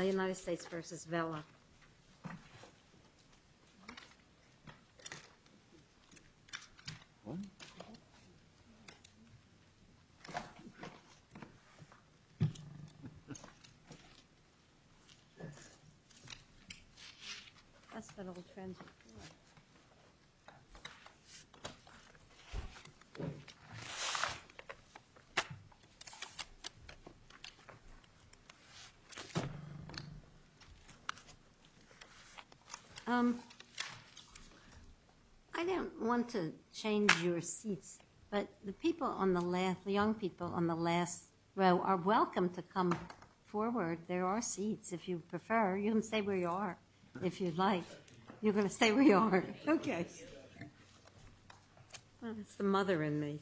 United States vs. Vella United States. Thank you. I don't want to change your seats, but the people on the left, the young people on the left row are welcome to come forward. There are seats if you prefer. You can stay where you are if you'd like. You're going to stay where you are. Okay. Thank you. It's the mother in me.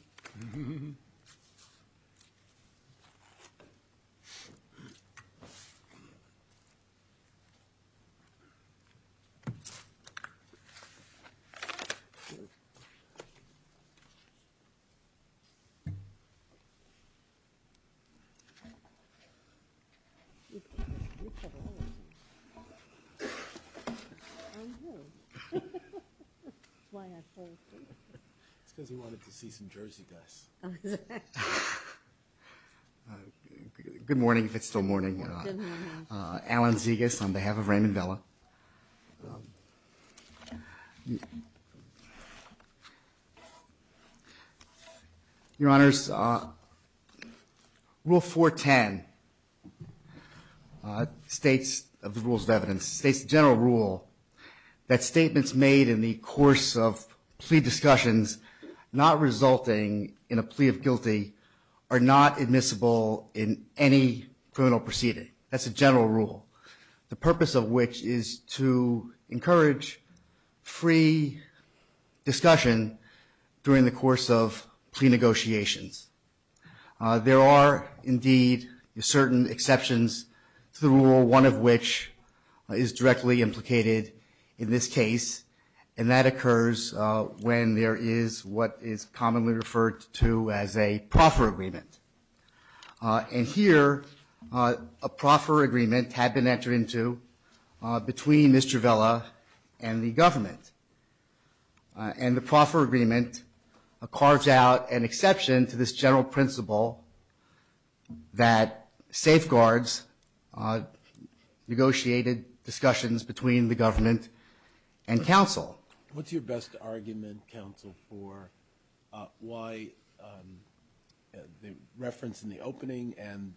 That's why I fold. It's because he wanted to see some Jersey dust. Good morning, if it's still morning. Good morning. Alan Zegas on behalf of Raymond Vella. Your Honors, Rule 410 states, of the Rules of Evidence, states general rule that statements made in the course of plea discussions not resulting in a plea of guilty are not admissible in any criminal proceeding. That's a general rule, the purpose of which is to encourage free discussion during the course of plea negotiations. There are, indeed, certain exceptions to the rule, one of which is directly implicated in this case, and that occurs when there is what is commonly referred to as a proffer agreement. And here, a proffer agreement had been entered into between Mr. Vella and the government. And the proffer agreement carves out an exception to this general principle that safeguards negotiated discussions between the government and counsel. What's your best argument, counsel, for why the reference in the opening and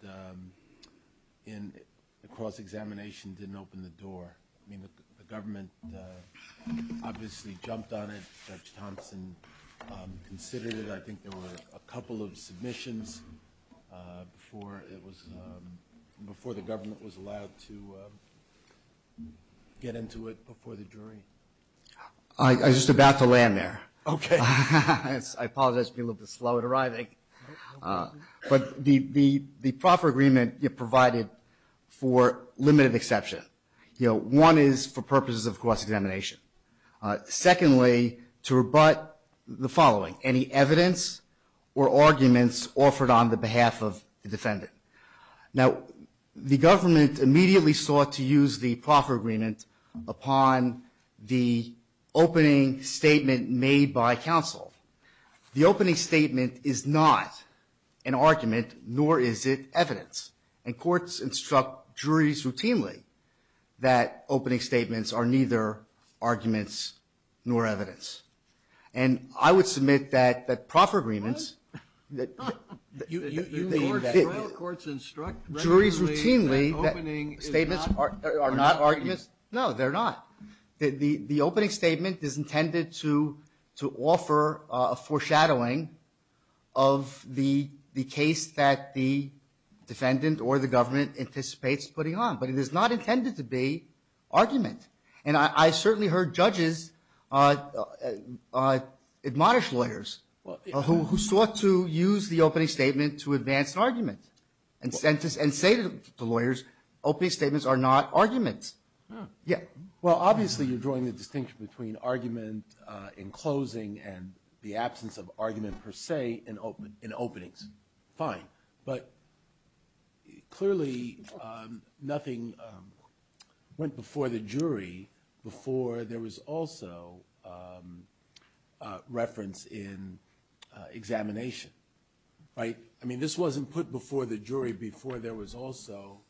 in the cross-examination didn't open the door? I mean, the government obviously jumped on it. Judge Thompson considered it. I think there were a couple of submissions before the government was allowed to get into it before the jury. I was just about to land there. Okay. I apologize for being a little bit slow at arriving. But the proffer agreement provided for limited exception. One is for purposes of cross-examination. Secondly, to rebut the following. Any evidence or arguments offered on the behalf of the defendant. Now, the government immediately sought to use the proffer agreement upon the opening statement made by counsel. The opening statement is not an argument, nor is it evidence. And courts instruct juries routinely that opening statements are not arguments. No, they're not. The opening statement is intended to offer a foreshadowing of the case that the defendant or the government anticipates putting on. But it is not intended to be argument. And I certainly heard judges admonish lawyers who sought to use the opening statement to advance an argument and say to lawyers, opening statements are not arguments. Yeah. Well, obviously you're drawing the distinction between argument in closing and the absence of argument per se in openings. Fine. But clearly nothing went before the jury before there was also reference in examination. Right? I mean, this wasn't put before the jury before there was also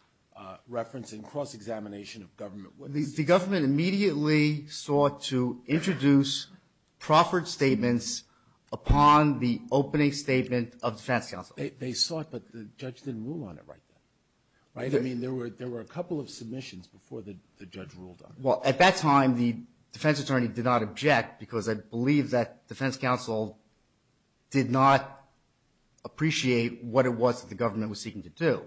reference in cross-examination of government. The government immediately sought to introduce proffered statements upon the opening statement of defense counsel. They sought, but the judge didn't rule on it right then. Right? I mean, there were a couple of submissions before the judge ruled on it. Well, at that time the defense attorney did not object because I believe that defense counsel did not appreciate what it was that the government was seeking to do.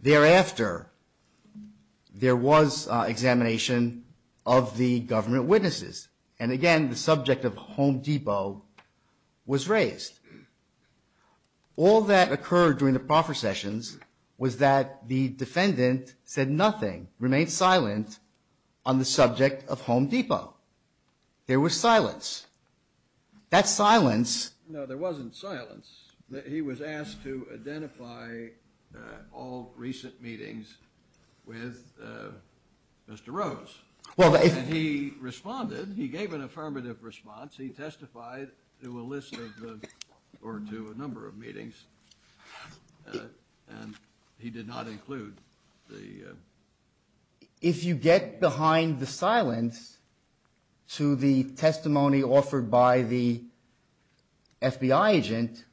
Thereafter, there was examination of the government witnesses. And again, the subject of Home Depot was raised. All that occurred during the proffer sessions was that the defendant said nothing, remained silent on the subject of Home Depot. There was silence. That silence. No, there wasn't silence. He was asked to identify all recent meetings with Mr. Rose. And he responded. He gave an affirmative response. He testified to a list of the, or to a number of meetings. And he did not include the. If you get behind the silence to the testimony offered by the FBI agent,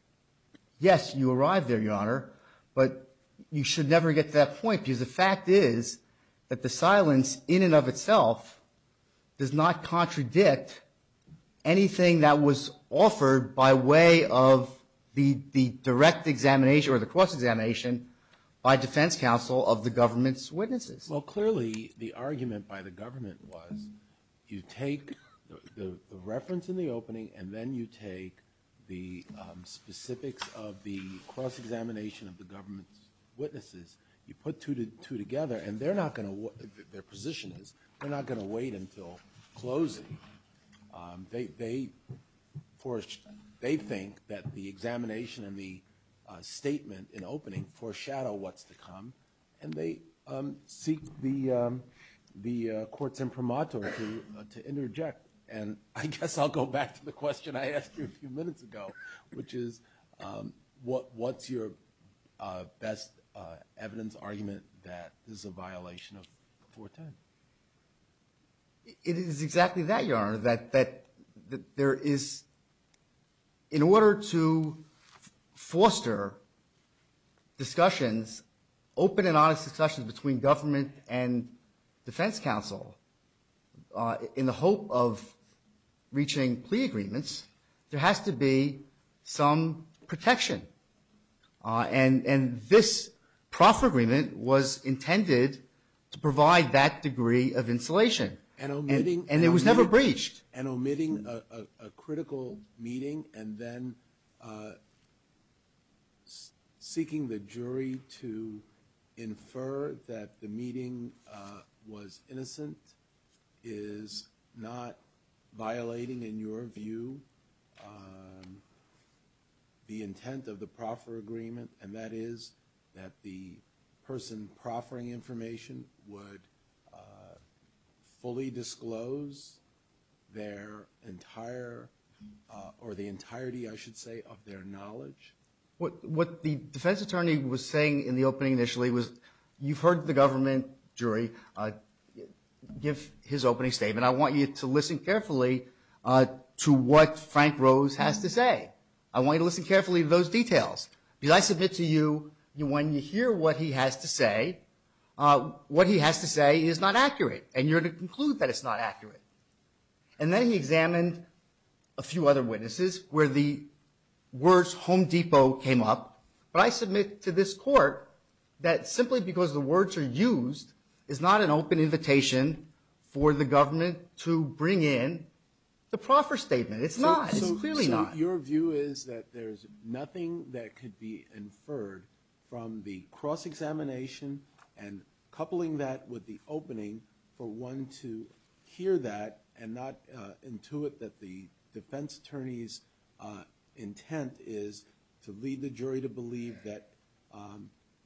yes, you arrived there, Your Honor, but you should never get to that point because the fact is that the silence in and of itself does not contradict anything that was offered by way of the direct examination or the cross-examination by defense counsel of the government's witnesses. Well, clearly the argument by the government was you take the reference in the opening and then you take the specifics of the cross-examination of the government's witnesses. You put two together, and they're not going to, their position is they're not going to wait until closing. They think that the examination and the statement in opening foreshadow what's to come. And they seek the courts imprimatur to interject. And I guess I'll go back to the question I asked you a few minutes ago, which is what's your best evidence, argument that this is a violation of 410? It is exactly that, Your Honor, that there is, in order to foster discussions, open and honest discussions between government and defense counsel in the hope of protection. And this proffer agreement was intended to provide that degree of insulation. And it was never breached. And omitting a critical meeting and then seeking the jury to infer that the intent of the proffer agreement, and that is that the person proffering information would fully disclose their entire or the entirety, I should say, of their knowledge. What the defense attorney was saying in the opening initially was you've heard the government jury give his opening statement. I want you to listen carefully to what Frank Rose has to say. I want you to listen carefully to those details. Because I submit to you when you hear what he has to say, what he has to say is not accurate. And you're to conclude that it's not accurate. And then he examined a few other witnesses where the words Home Depot came up. But I submit to this court that simply because the words are used is not an open invitation for the government to bring in the proffer statement. It's not. It's clearly not. So your view is that there's nothing that could be inferred from the cross examination and coupling that with the opening for one to hear that and not intuit that the defense attorney's intent is to lead the jury to believe that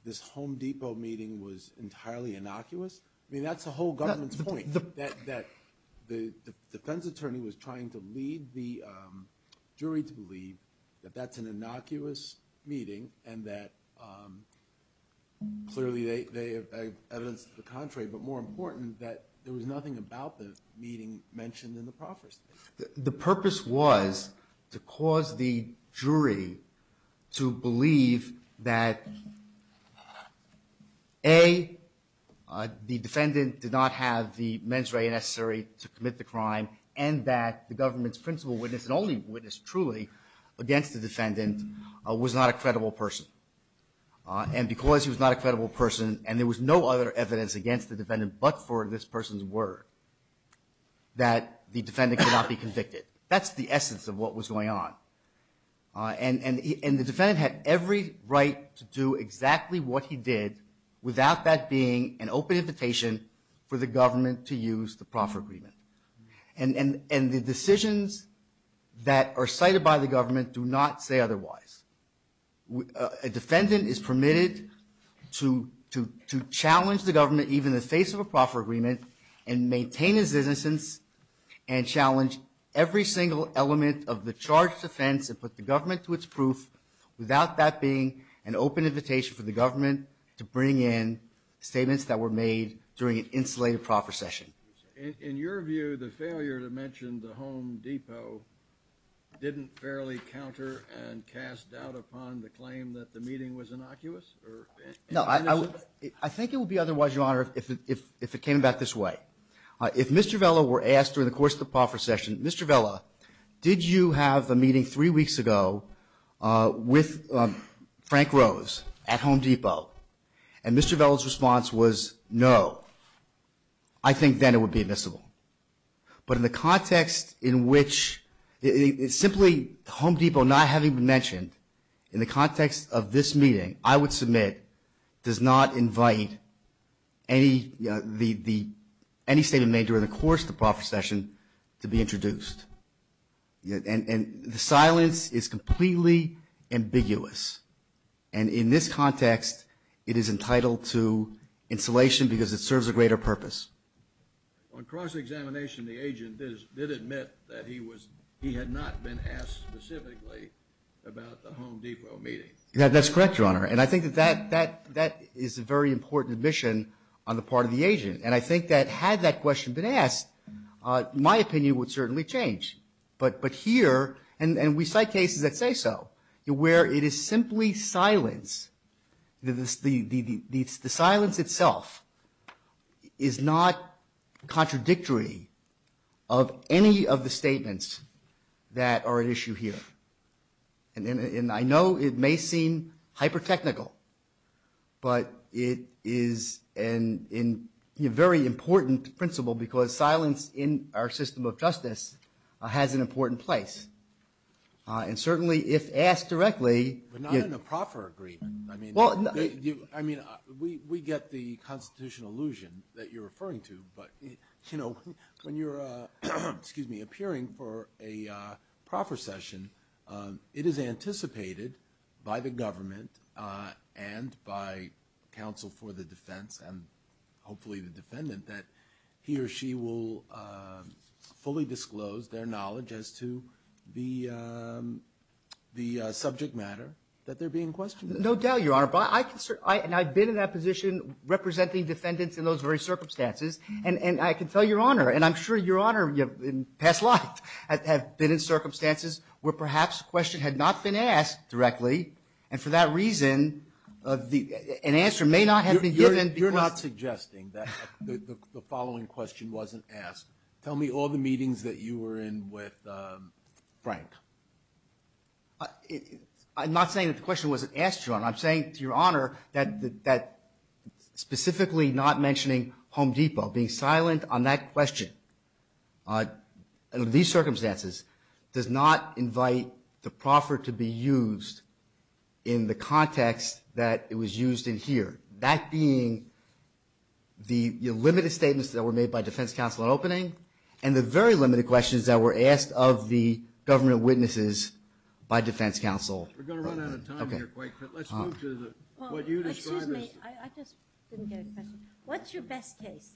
this Home Depot meeting was entirely innocuous? I mean, that's the whole government's point, that the defense attorney was trying to lead the jury to believe that that's an innocuous meeting and that clearly they have evidence to the contrary. But more important, that there was nothing about the meeting mentioned in the proffer statement. The purpose was to cause the jury to believe that, A, the defendant did not have the mens rea necessary to commit the crime and that the government's principal witness and only witness truly against the defendant was not a credible person. And because he was not a credible person and there was no other evidence against the defendant but for this person's word, that the defendant could not be convicted. That's the essence of what was going on. And the defendant had every right to do exactly what he did without that being an open invitation for the government to use the proffer agreement. And the decisions that are cited by the government do not say otherwise. A defendant is permitted to challenge the government even in the face of a proffer agreement and maintain his innocence and challenge every single element of the charge defense and put the government to its proof without that being an open invitation for the government to bring in statements that were made during an insulated proffer session. In your view, the failure to mention the Home Depot didn't fairly counter and cast doubt upon the claim that the meeting was innocuous? I think it would be otherwise, Your Honor, if it came back this way. If Mr. Vella were asked during the course of the proffer session, Mr. Vella, did you have a meeting three weeks ago with Frank Rose at Home Depot? And Mr. Vella's response was no. I think then it would be admissible. But in the context in which simply Home Depot not having been mentioned, in the context of this meeting, I would submit does not invite any statement made during the course of the proffer session to be introduced. And the silence is completely ambiguous. And in this context, it is entitled to insulation because it serves a greater purpose. On cross-examination, the agent did admit that he had not been asked specifically about the Home Depot meeting. That's correct, Your Honor. And I think that that is a very important admission on the part of the agent. And I think that had that question been asked, my opinion would certainly change. But here, and we cite cases that say so, where it is simply silence, the silence itself is not contradictory of any of the statements that are at issue here. And I know it may seem hyper-technical. But it is a very important principle because silence in our system of justice has an important place. And certainly, if asked directly. But not in a proffer agreement. I mean, we get the constitutional illusion that you're referring to. But, you know, when you're appearing for a proffer session, it is anticipated by the government and by counsel for the defense and hopefully the defendant that he or she will fully disclose their knowledge as to the subject matter that they're being questioned. No doubt, Your Honor. And I've been in that position representing defendants in those very circumstances. And I can tell Your Honor, and I'm sure Your Honor in past life have been in circumstances where perhaps a question had not been asked directly. And for that reason, an answer may not have been given. You're not suggesting that the following question wasn't asked. Tell me all the meetings that you were in with Frank. I'm not saying that the question wasn't asked, Your Honor. And I'm saying to Your Honor that specifically not mentioning Home Depot, being silent on that question in these circumstances does not invite the proffer to be used in the context that it was used in here. That being the limited statements that were made by defense counsel in opening and the very limited questions that were asked of the government witnesses by defense counsel. We're going to run out of time here quite quickly. Let's move to what you described as. Excuse me. I just didn't get a question. What's your best case?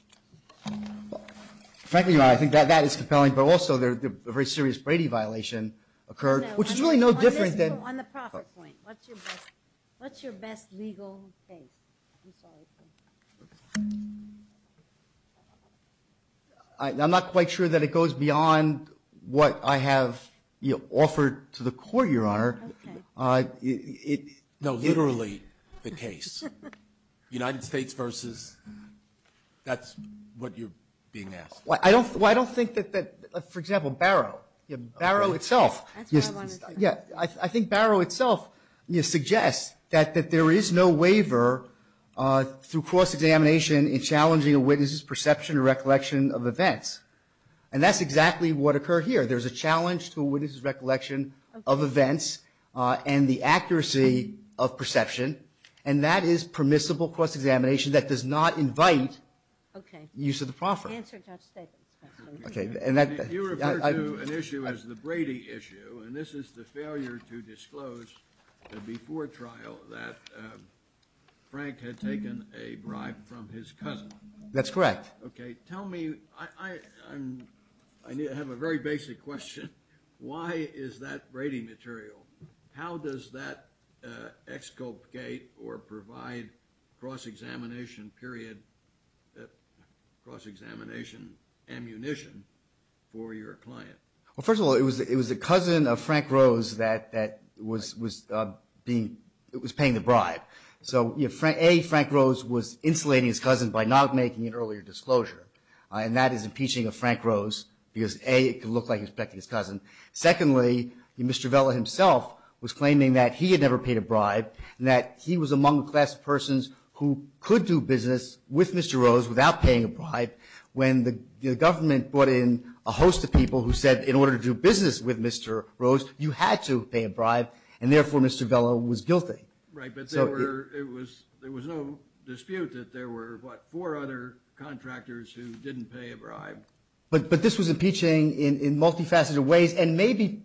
Frankly, Your Honor, I think that is compelling. But also a very serious Brady violation occurred, which is really no different than. On the profit point, what's your best legal case? I'm sorry. I'm not quite sure that it goes beyond what I have offered to the court, Your Honor. Okay. No, literally the case. United States versus. That's what you're being asked. Well, I don't think that, for example, Barrow. Barrow itself. That's what I wanted to say. I think Barrow itself suggests that there is no waiver through cross-examination in challenging a witness's perception or recollection of events. And that's exactly what occurred here. There's a challenge to a witness's recollection of events and the accuracy of perception, and that is permissible cross-examination that does not invite use of the proffer. Answer Judge Stevens' question. You refer to an issue as the Brady issue, and this is the failure to disclose before trial that Frank had taken a bribe from his cousin. That's correct. Okay. Tell me. I have a very basic question. Why is that Brady material? How does that exculpate or provide cross-examination period, cross-examination ammunition for your client? Well, first of all, it was the cousin of Frank Rose that was paying the bribe. So, A, Frank Rose was insulating his cousin by not making an earlier disclosure, and that is impeaching of Frank Rose because, A, it looked like he was protecting his cousin. Secondly, Mr. Vella himself was claiming that he had never paid a bribe and that he was among the class of persons who could do business with Mr. Rose without paying a bribe when the government brought in a host of people who said in order to do business with Mr. Rose, you had to pay a bribe, and therefore Mr. Vella was guilty. Right, but there was no dispute that there were, what, four other contractors who didn't pay a bribe. Right, but this was impeaching in multifaceted ways, and maybe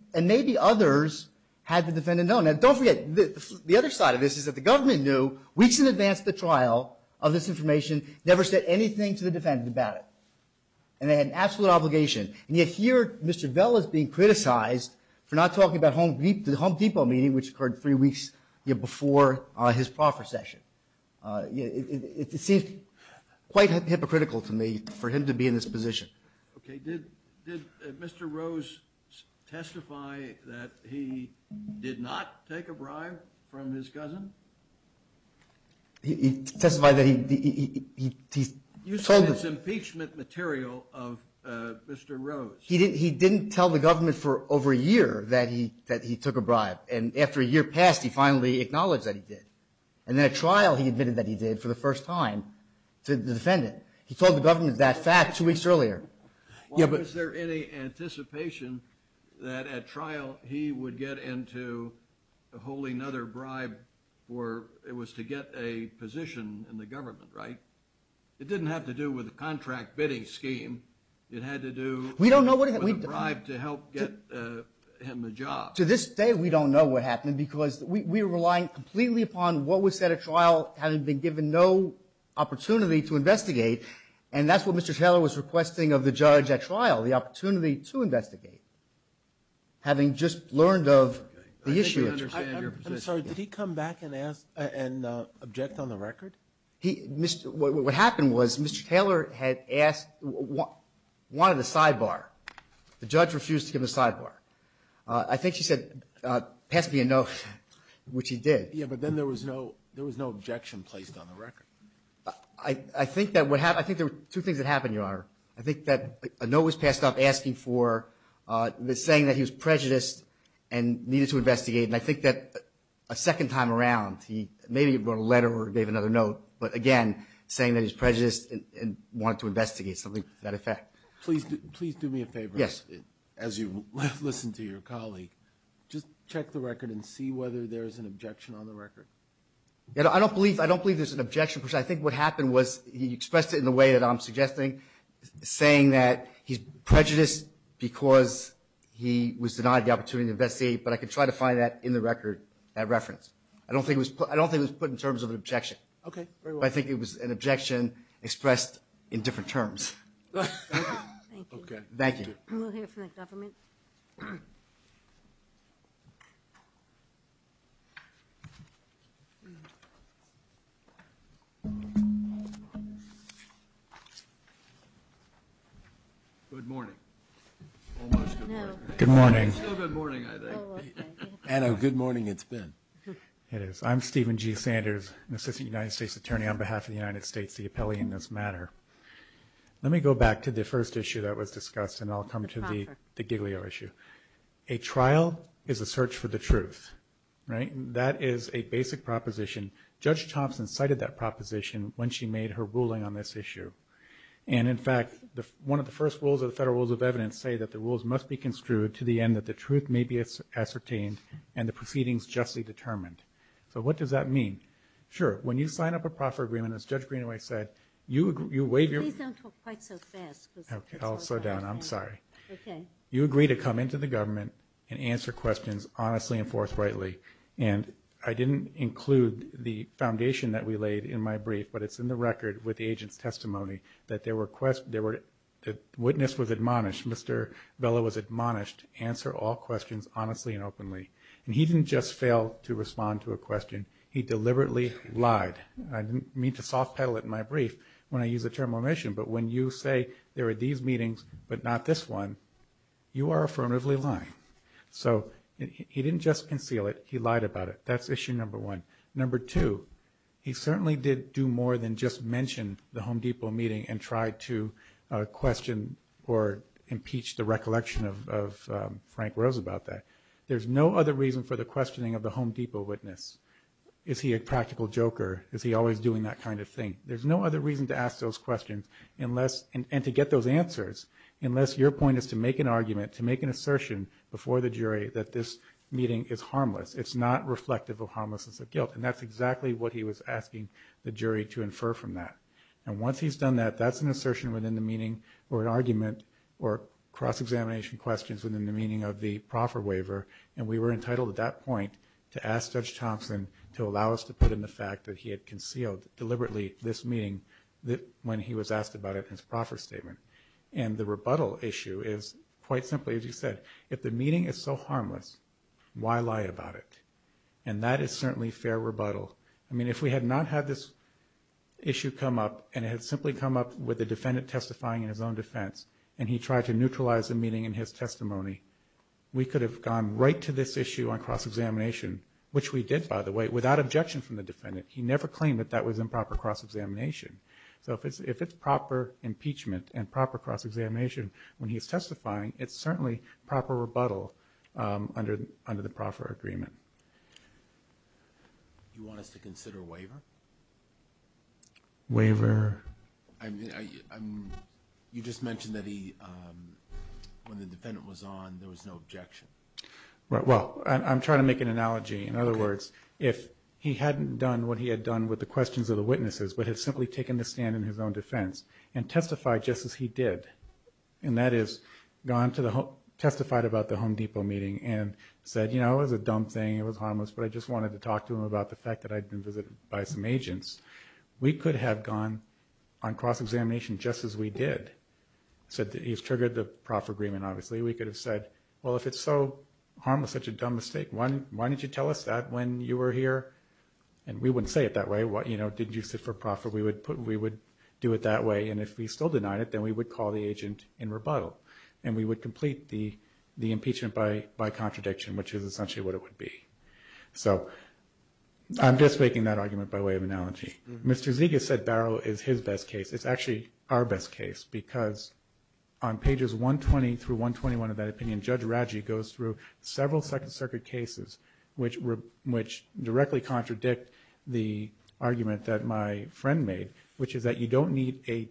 others had the defendant known. Now, don't forget, the other side of this is that the government knew weeks in advance of the trial of this information, never said anything to the defendant about it, and they had an absolute obligation, and yet here Mr. Vella is being criticized for not talking about the Home Depot meeting, which occurred three weeks before his proffer session. It seems quite hypocritical to me for him to be in this position. Okay, did Mr. Rose testify that he did not take a bribe from his cousin? He testified that he told the- You said it's impeachment material of Mr. Rose. He didn't tell the government for over a year that he took a bribe, and after a year passed he finally acknowledged that he did, and then at trial he admitted that he did for the first time to the defendant. He told the government that fact two weeks earlier. Was there any anticipation that at trial he would get into holding another bribe for, it was to get a position in the government, right? It didn't have to do with a contract bidding scheme. It had to do with a bribe to help get him a job. To this day we don't know what happened because we're relying completely upon what was said at trial having been given no opportunity to investigate, and that's what Mr. Taylor was requesting of the judge at trial, the opportunity to investigate, having just learned of the issue. I'm sorry, did he come back and object on the record? What happened was Mr. Taylor had asked, wanted a sidebar. The judge refused to give a sidebar. I think she said, pass me a note, which he did. Yeah, but then there was no objection placed on the record. I think there were two things that happened, Your Honor. I think that a note was passed off asking for, saying that he was prejudiced and needed to investigate, and I think that a second time around he maybe wrote a letter or gave another note, but again saying that he was prejudiced and wanted to investigate, something to that effect. Please do me a favor as you listen to your colleague. Just check the record and see whether there is an objection on the record. I don't believe there's an objection. I think what happened was he expressed it in the way that I'm suggesting, saying that he's prejudiced because he was denied the opportunity to investigate, but I could try to find that in the record, that reference. I don't think it was put in terms of an objection. Okay, very well. But I think it was an objection expressed in different terms. Thank you. Okay. Thank you. We'll hear from the government. Good morning. Almost good morning. Good morning. It's still good morning, I think. Oh, okay. I know. Good morning it's been. It is. I'm Stephen G. Sanders, an assistant United States attorney on behalf of the United States, the appellee in this matter. Let me go back to the first issue that was discussed and I'll come to the giglio issue. A trial is a search for the truth, right? That is a basic proposition. Judge Thompson cited that proposition when she made her ruling on this issue. And in fact, one of the first rules of the Federal Rules of Evidence say that the rules must be construed to the end that the truth may be ascertained and the proceedings justly determined. So what does that mean? Sure. When you sign up a proffer agreement, as Judge Greenaway said, you waive your. Please don't talk quite so fast. Okay. I'll slow down. I'm sorry. Okay. You agree to come into the government and answer questions honestly and forthrightly. And I didn't include the foundation that we laid in my brief, but it's in the record with the agent's testimony that there were, the witness was admonished, Mr. Bella was admonished, answer all questions honestly and openly. And he didn't just fail to respond to a question. He deliberately lied. I didn't mean to soft pedal it in my brief when I use the term omission, but when you say there are these meetings but not this one, you are affirmatively lying. So he didn't just conceal it. He lied about it. That's issue number one. Number two, he certainly did do more than just mention the Home Depot meeting and try to question or impeach the recollection of Frank Rose about that. There's no other reason for the questioning of the Home Depot witness. Is he a practical joker? Is he always doing that kind of thing? There's no other reason to ask those questions unless, and to get those answers, unless your point is to make an argument, to make an assertion before the jury that this meeting is harmless. It's not reflective of harmlessness of guilt. And that's exactly what he was asking the jury to infer from that. And once he's done that, that's an assertion within the meeting or an argument or cross-examination questions within the meaning of the proffer waiver, and we were entitled at that point to ask Judge Thompson to allow us to put in the fact that he had concealed deliberately this meeting when he was asked about it in his proffer statement. And the rebuttal issue is quite simply, as you said, if the meeting is so harmless, why lie about it? And that is certainly fair rebuttal. I mean, if we had not had this issue come up and it had simply come up with the defendant testifying in his own defense and he tried to neutralize the meeting in his testimony, we could have gone right to this issue on cross-examination, which we did, by the way, without objection from the defendant. He never claimed that that was improper cross-examination. So if it's proper impeachment and proper cross-examination when he's testifying, it's certainly proper rebuttal under the proffer agreement. Do you want us to consider waiver? Waiver? You just mentioned that when the defendant was on, there was no objection. Well, I'm trying to make an analogy. In other words, if he hadn't done what he had done with the questions of the witnesses but had simply taken the stand in his own defense and testified just as he did, and that is testified about the Home Depot meeting and said, you know, it was a dumb thing, it was harmless, but I just wanted to talk to him about the fact that I'd been visited by some agents, we could have gone on cross-examination just as we did. He's triggered the proffer agreement, obviously. We could have said, well, if it's so harmless, such a dumb mistake, why didn't you tell us that when you were here? And we wouldn't say it that way. You know, did you sit for proffer? We would do it that way. And if we still denied it, then we would call the agent in rebuttal and we would complete the impeachment by contradiction, which is essentially what it would be. So I'm just making that argument by way of analogy. Mr. Zegas said Barrow is his best case. It's actually our best case because on pages 120 through 121 of that opinion, Judge Raggi goes through several Second Circuit cases which directly contradict the argument that my friend made, which is that you don't need a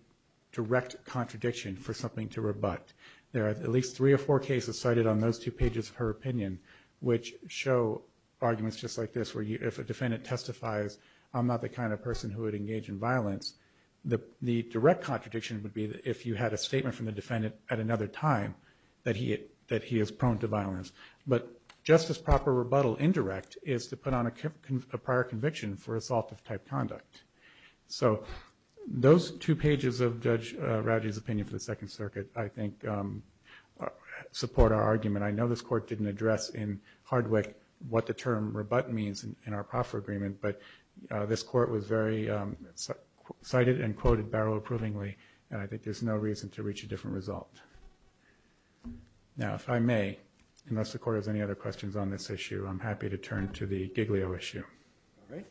direct contradiction for something to rebut. There are at least three or four cases cited on those two pages of her opinion which show arguments just like this where if a defendant testifies, I'm not the kind of person who would engage in violence, the direct contradiction would be if you had a statement from the defendant at another time that he is prone to violence. But just as proper rebuttal indirect is to put on a prior conviction for assault of type conduct. So those two pages of Judge Raggi's opinion for the Second Circuit I think support our argument. I know this Court didn't address in Hardwick what the term rebut means in our proffer agreement, but this Court was very cited and quoted Barrow approvingly and I think there's no reason to reach a different result. Now if I may, unless the Court has any other questions on this issue, I'm happy to turn to the Giglio issue. All right.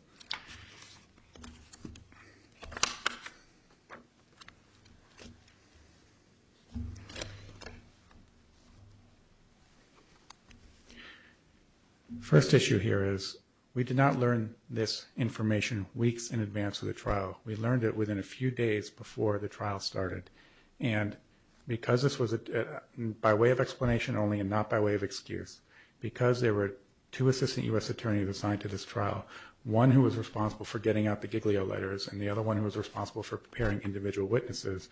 First issue here is we did not learn this information weeks in advance of the trial. We learned it within a few days before the trial started. And because this was by way of explanation only and not by way of excuse, because there were two assistant U.S. attorneys assigned to this trial, one who was responsible for getting out the Giglio letters and the other one who was responsible for preparing individual witnesses,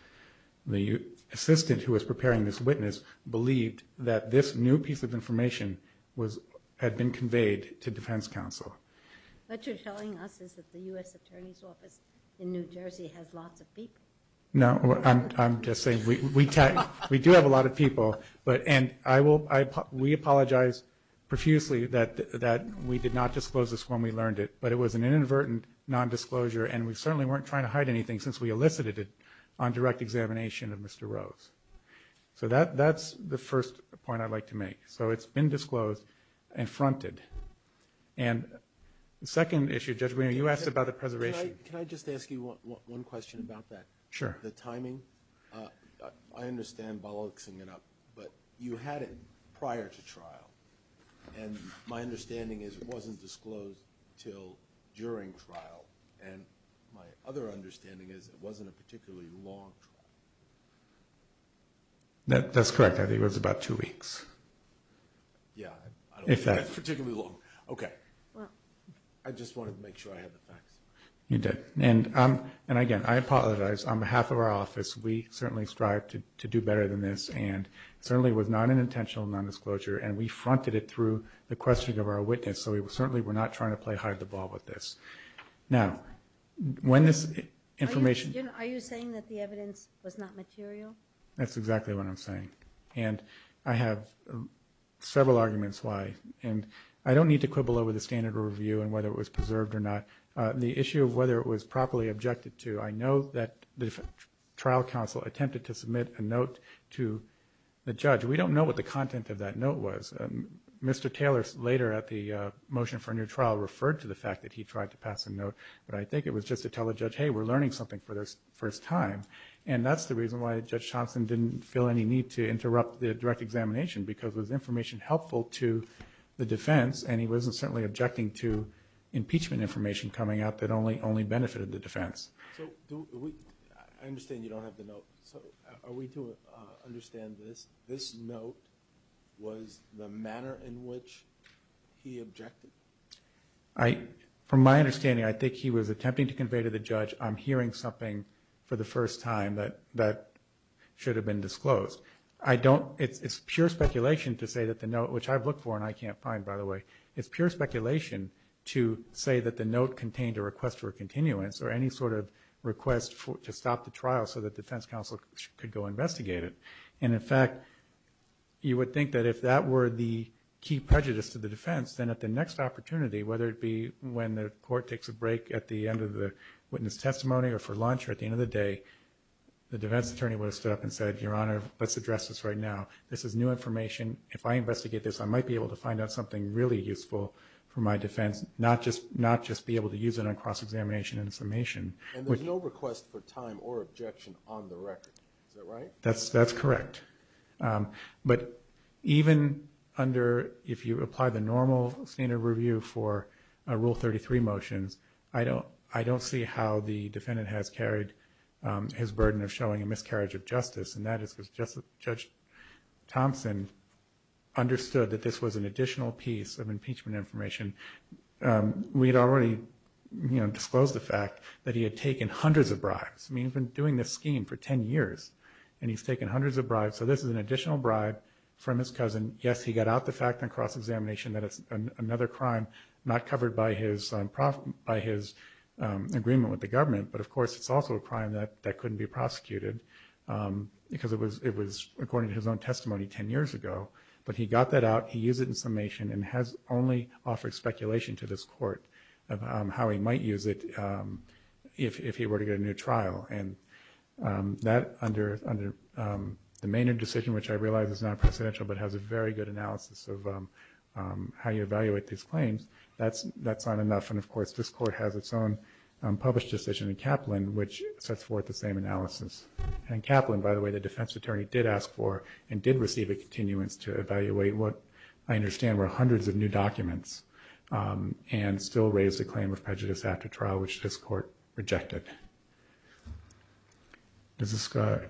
the assistant who was preparing this witness believed that this new piece of information had been conveyed to defense counsel. What you're telling us is that the U.S. Attorney's Office in New Jersey has lots of people. No, I'm just saying we do have a lot of people. We apologize profusely that we did not disclose this when we learned it, but it was an inadvertent nondisclosure and we certainly weren't trying to hide anything since we elicited it on direct examination of Mr. Rose. So that's the first point I'd like to make. So it's been disclosed and fronted. And the second issue, Judge Brewer, you asked about the preservation. Can I just ask you one question about that? Sure. The timing, I understand bolloxing it up, but you had it prior to trial, and my understanding is it wasn't disclosed until during trial, and my other understanding is it wasn't a particularly long trial. That's correct. I think it was about two weeks. Yeah, I don't think that's particularly long. Okay. I just wanted to make sure I had the facts. You did. And, again, I apologize. On behalf of our office, we certainly strive to do better than this, and it certainly was not an intentional nondisclosure, and we fronted it through the questioning of our witness, so we certainly were not trying to play hide-the-ball with this. Now, when this information – Are you saying that the evidence was not material? That's exactly what I'm saying, and I have several arguments why. And I don't need to quibble over the standard of review and whether it was preserved or not. The issue of whether it was properly objected to, I know that the trial counsel attempted to submit a note to the judge. We don't know what the content of that note was. Mr. Taylor, later at the motion for a new trial, referred to the fact that he tried to pass a note, but I think it was just to tell the judge, hey, we're learning something for the first time, and that's the reason why Judge Thompson didn't feel any need to interrupt the direct examination because it was information helpful to the defense, and he wasn't certainly objecting to impeachment information coming out that only benefited the defense. I understand you don't have the note. Are we to understand this, this note was the manner in which he objected? From my understanding, I think he was attempting to convey to the judge, I'm hearing something for the first time that should have been disclosed. It's pure speculation to say that the note, which I've looked for and I can't find, by the way, it's pure speculation to say that the note contained a request for a continuance or any sort of request to stop the trial so that defense counsel could go investigate it. And, in fact, you would think that if that were the key prejudice to the defense, then at the next opportunity, whether it be when the court takes a break at the end of the witness testimony or for lunch or at the end of the day, the defense attorney would have stood up and said, Your Honor, let's address this right now. This is new information. If I investigate this, I might be able to find out something really useful for my defense, not just be able to use it on cross-examination and summation. And there's no request for time or objection on the record. Is that right? That's correct. But even under if you apply the normal standard review for Rule 33 motions, I don't see how the defendant has carried his burden of showing a miscarriage of justice, and that is because Judge Thompson understood that this was an additional piece of impeachment information. We had already disclosed the fact that he had taken hundreds of bribes. I mean, he's been doing this scheme for 10 years, and he's taken hundreds of bribes. So this is an additional bribe from his cousin. Yes, he got out the fact on cross-examination that it's another crime not covered by his agreement with the government, but, of course, it's also a crime that couldn't be prosecuted because it was according to his own testimony 10 years ago. But he got that out, he used it in summation, and has only offered speculation to this court of how he might use it if he were to get a new trial. And that, under the Maynard decision, which I realize is non-presidential, but has a very good analysis of how you evaluate these claims, that's not enough. And, of course, this court has its own published decision in Kaplan, which sets forth the same analysis. And in Kaplan, by the way, the defense attorney did ask for and did receive a continuance to evaluate what I understand were hundreds of new documents and still raise the claim of prejudice after trial, which this court rejected. If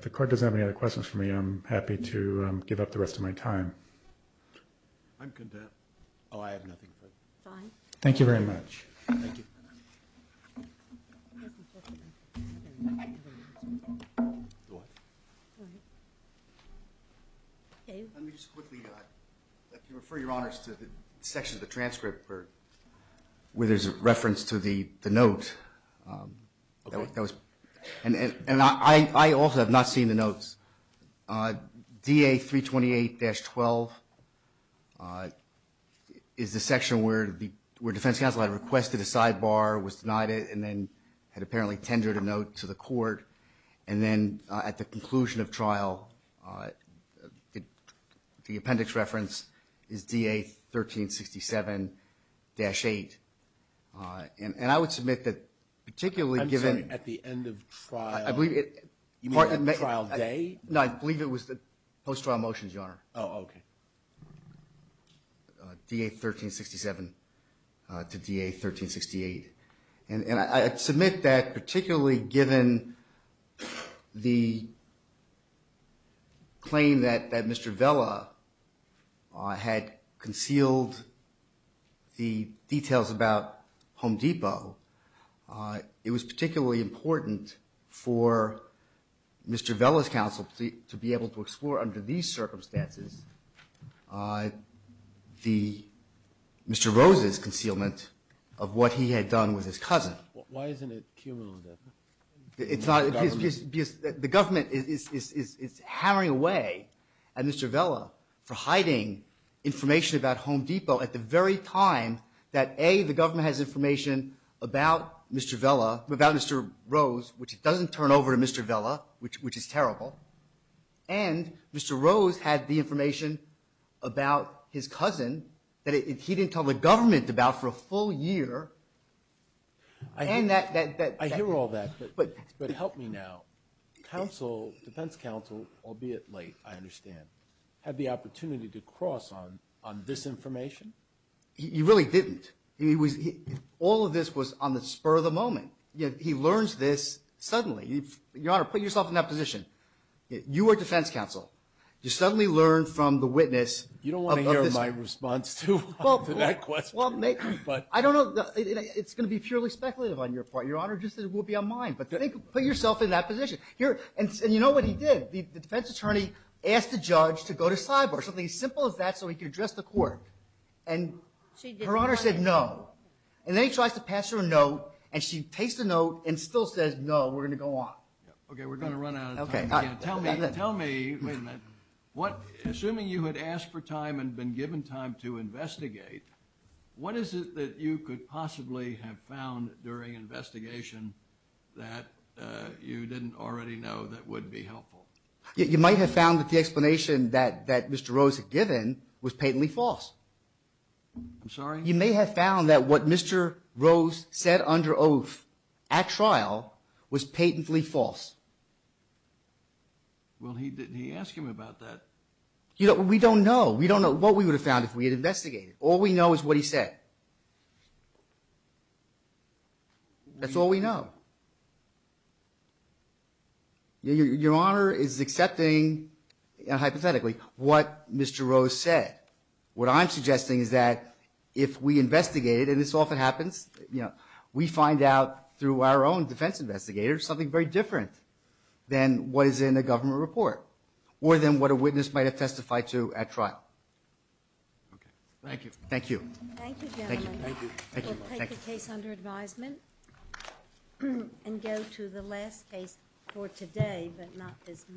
the court doesn't have any other questions for me, I'm happy to give up the rest of my time. I'm content. Oh, I have nothing. Fine. Thank you very much. Thank you. Let me just quickly refer your honors to the section of the transcript where there's a reference to the note. And I also have not seen the notes. DA 328-12 is the section where defense counsel had requested a sidebar, was denied it, and then had apparently tendered a note to the court. And then at the conclusion of trial, the appendix reference is DA 1367-8. And I would submit that particularly given at the end of trial, trial day? No, I believe it was the post-trial motions, Your Honor. Oh, okay. DA 1367 to DA 1368. And I submit that particularly given the claim that Mr. Vella had concealed the details about Home Depot, it was particularly important for Mr. Vella's counsel to be able to explore under these circumstances Mr. Rose's concealment of what he had done with his cousin. Why isn't it cumulative? Because the government is hammering away at Mr. Vella for hiding information about Home Depot at the very time that, A, the government has information about Mr. Vella, about Mr. Rose, which it doesn't turn over to Mr. Vella, which is terrible. And Mr. Rose had the information about his cousin that he didn't tell the government about for a full year. I hear all that, but help me now. Counsel, defense counsel, albeit late, I understand, had the opportunity to cross on this information? He really didn't. All of this was on the spur of the moment. He learns this suddenly. Your Honor, put yourself in that position. You were defense counsel. You suddenly learned from the witness of this. You don't want to hear my response to that question. I don't know. It's going to be purely speculative on your part, Your Honor, just as it will be on mine. But put yourself in that position. And you know what he did? The defense attorney asked the judge to go to cyber, something as simple as that, so he could address the court. And Her Honor said no. And then he tries to pass her a note, and she takes the note and still says no, we're going to go on. Okay, we're going to run out of time. Tell me, wait a minute, assuming you had asked for time and been given time to investigate, what is it that you could possibly have found during investigation that you didn't already know that would be helpful? You might have found that the explanation that Mr. Rose had given was patently false. I'm sorry? You may have found that what Mr. Rose said under oath at trial was patently false. Well, he didn't ask him about that. We don't know. We don't know what we would have found if we had investigated. All we know is what he said. That's all we know. Your Honor is accepting, hypothetically, what Mr. Rose said. What I'm suggesting is that if we investigated, and this often happens, you know, we find out through our own defense investigators something very different than what is in the government report, or than what a witness might have testified to at trial. Okay. Thank you. Thank you. Thank you, gentlemen. Thank you. We'll take the case under advisement and go to the last case for today, but not as much.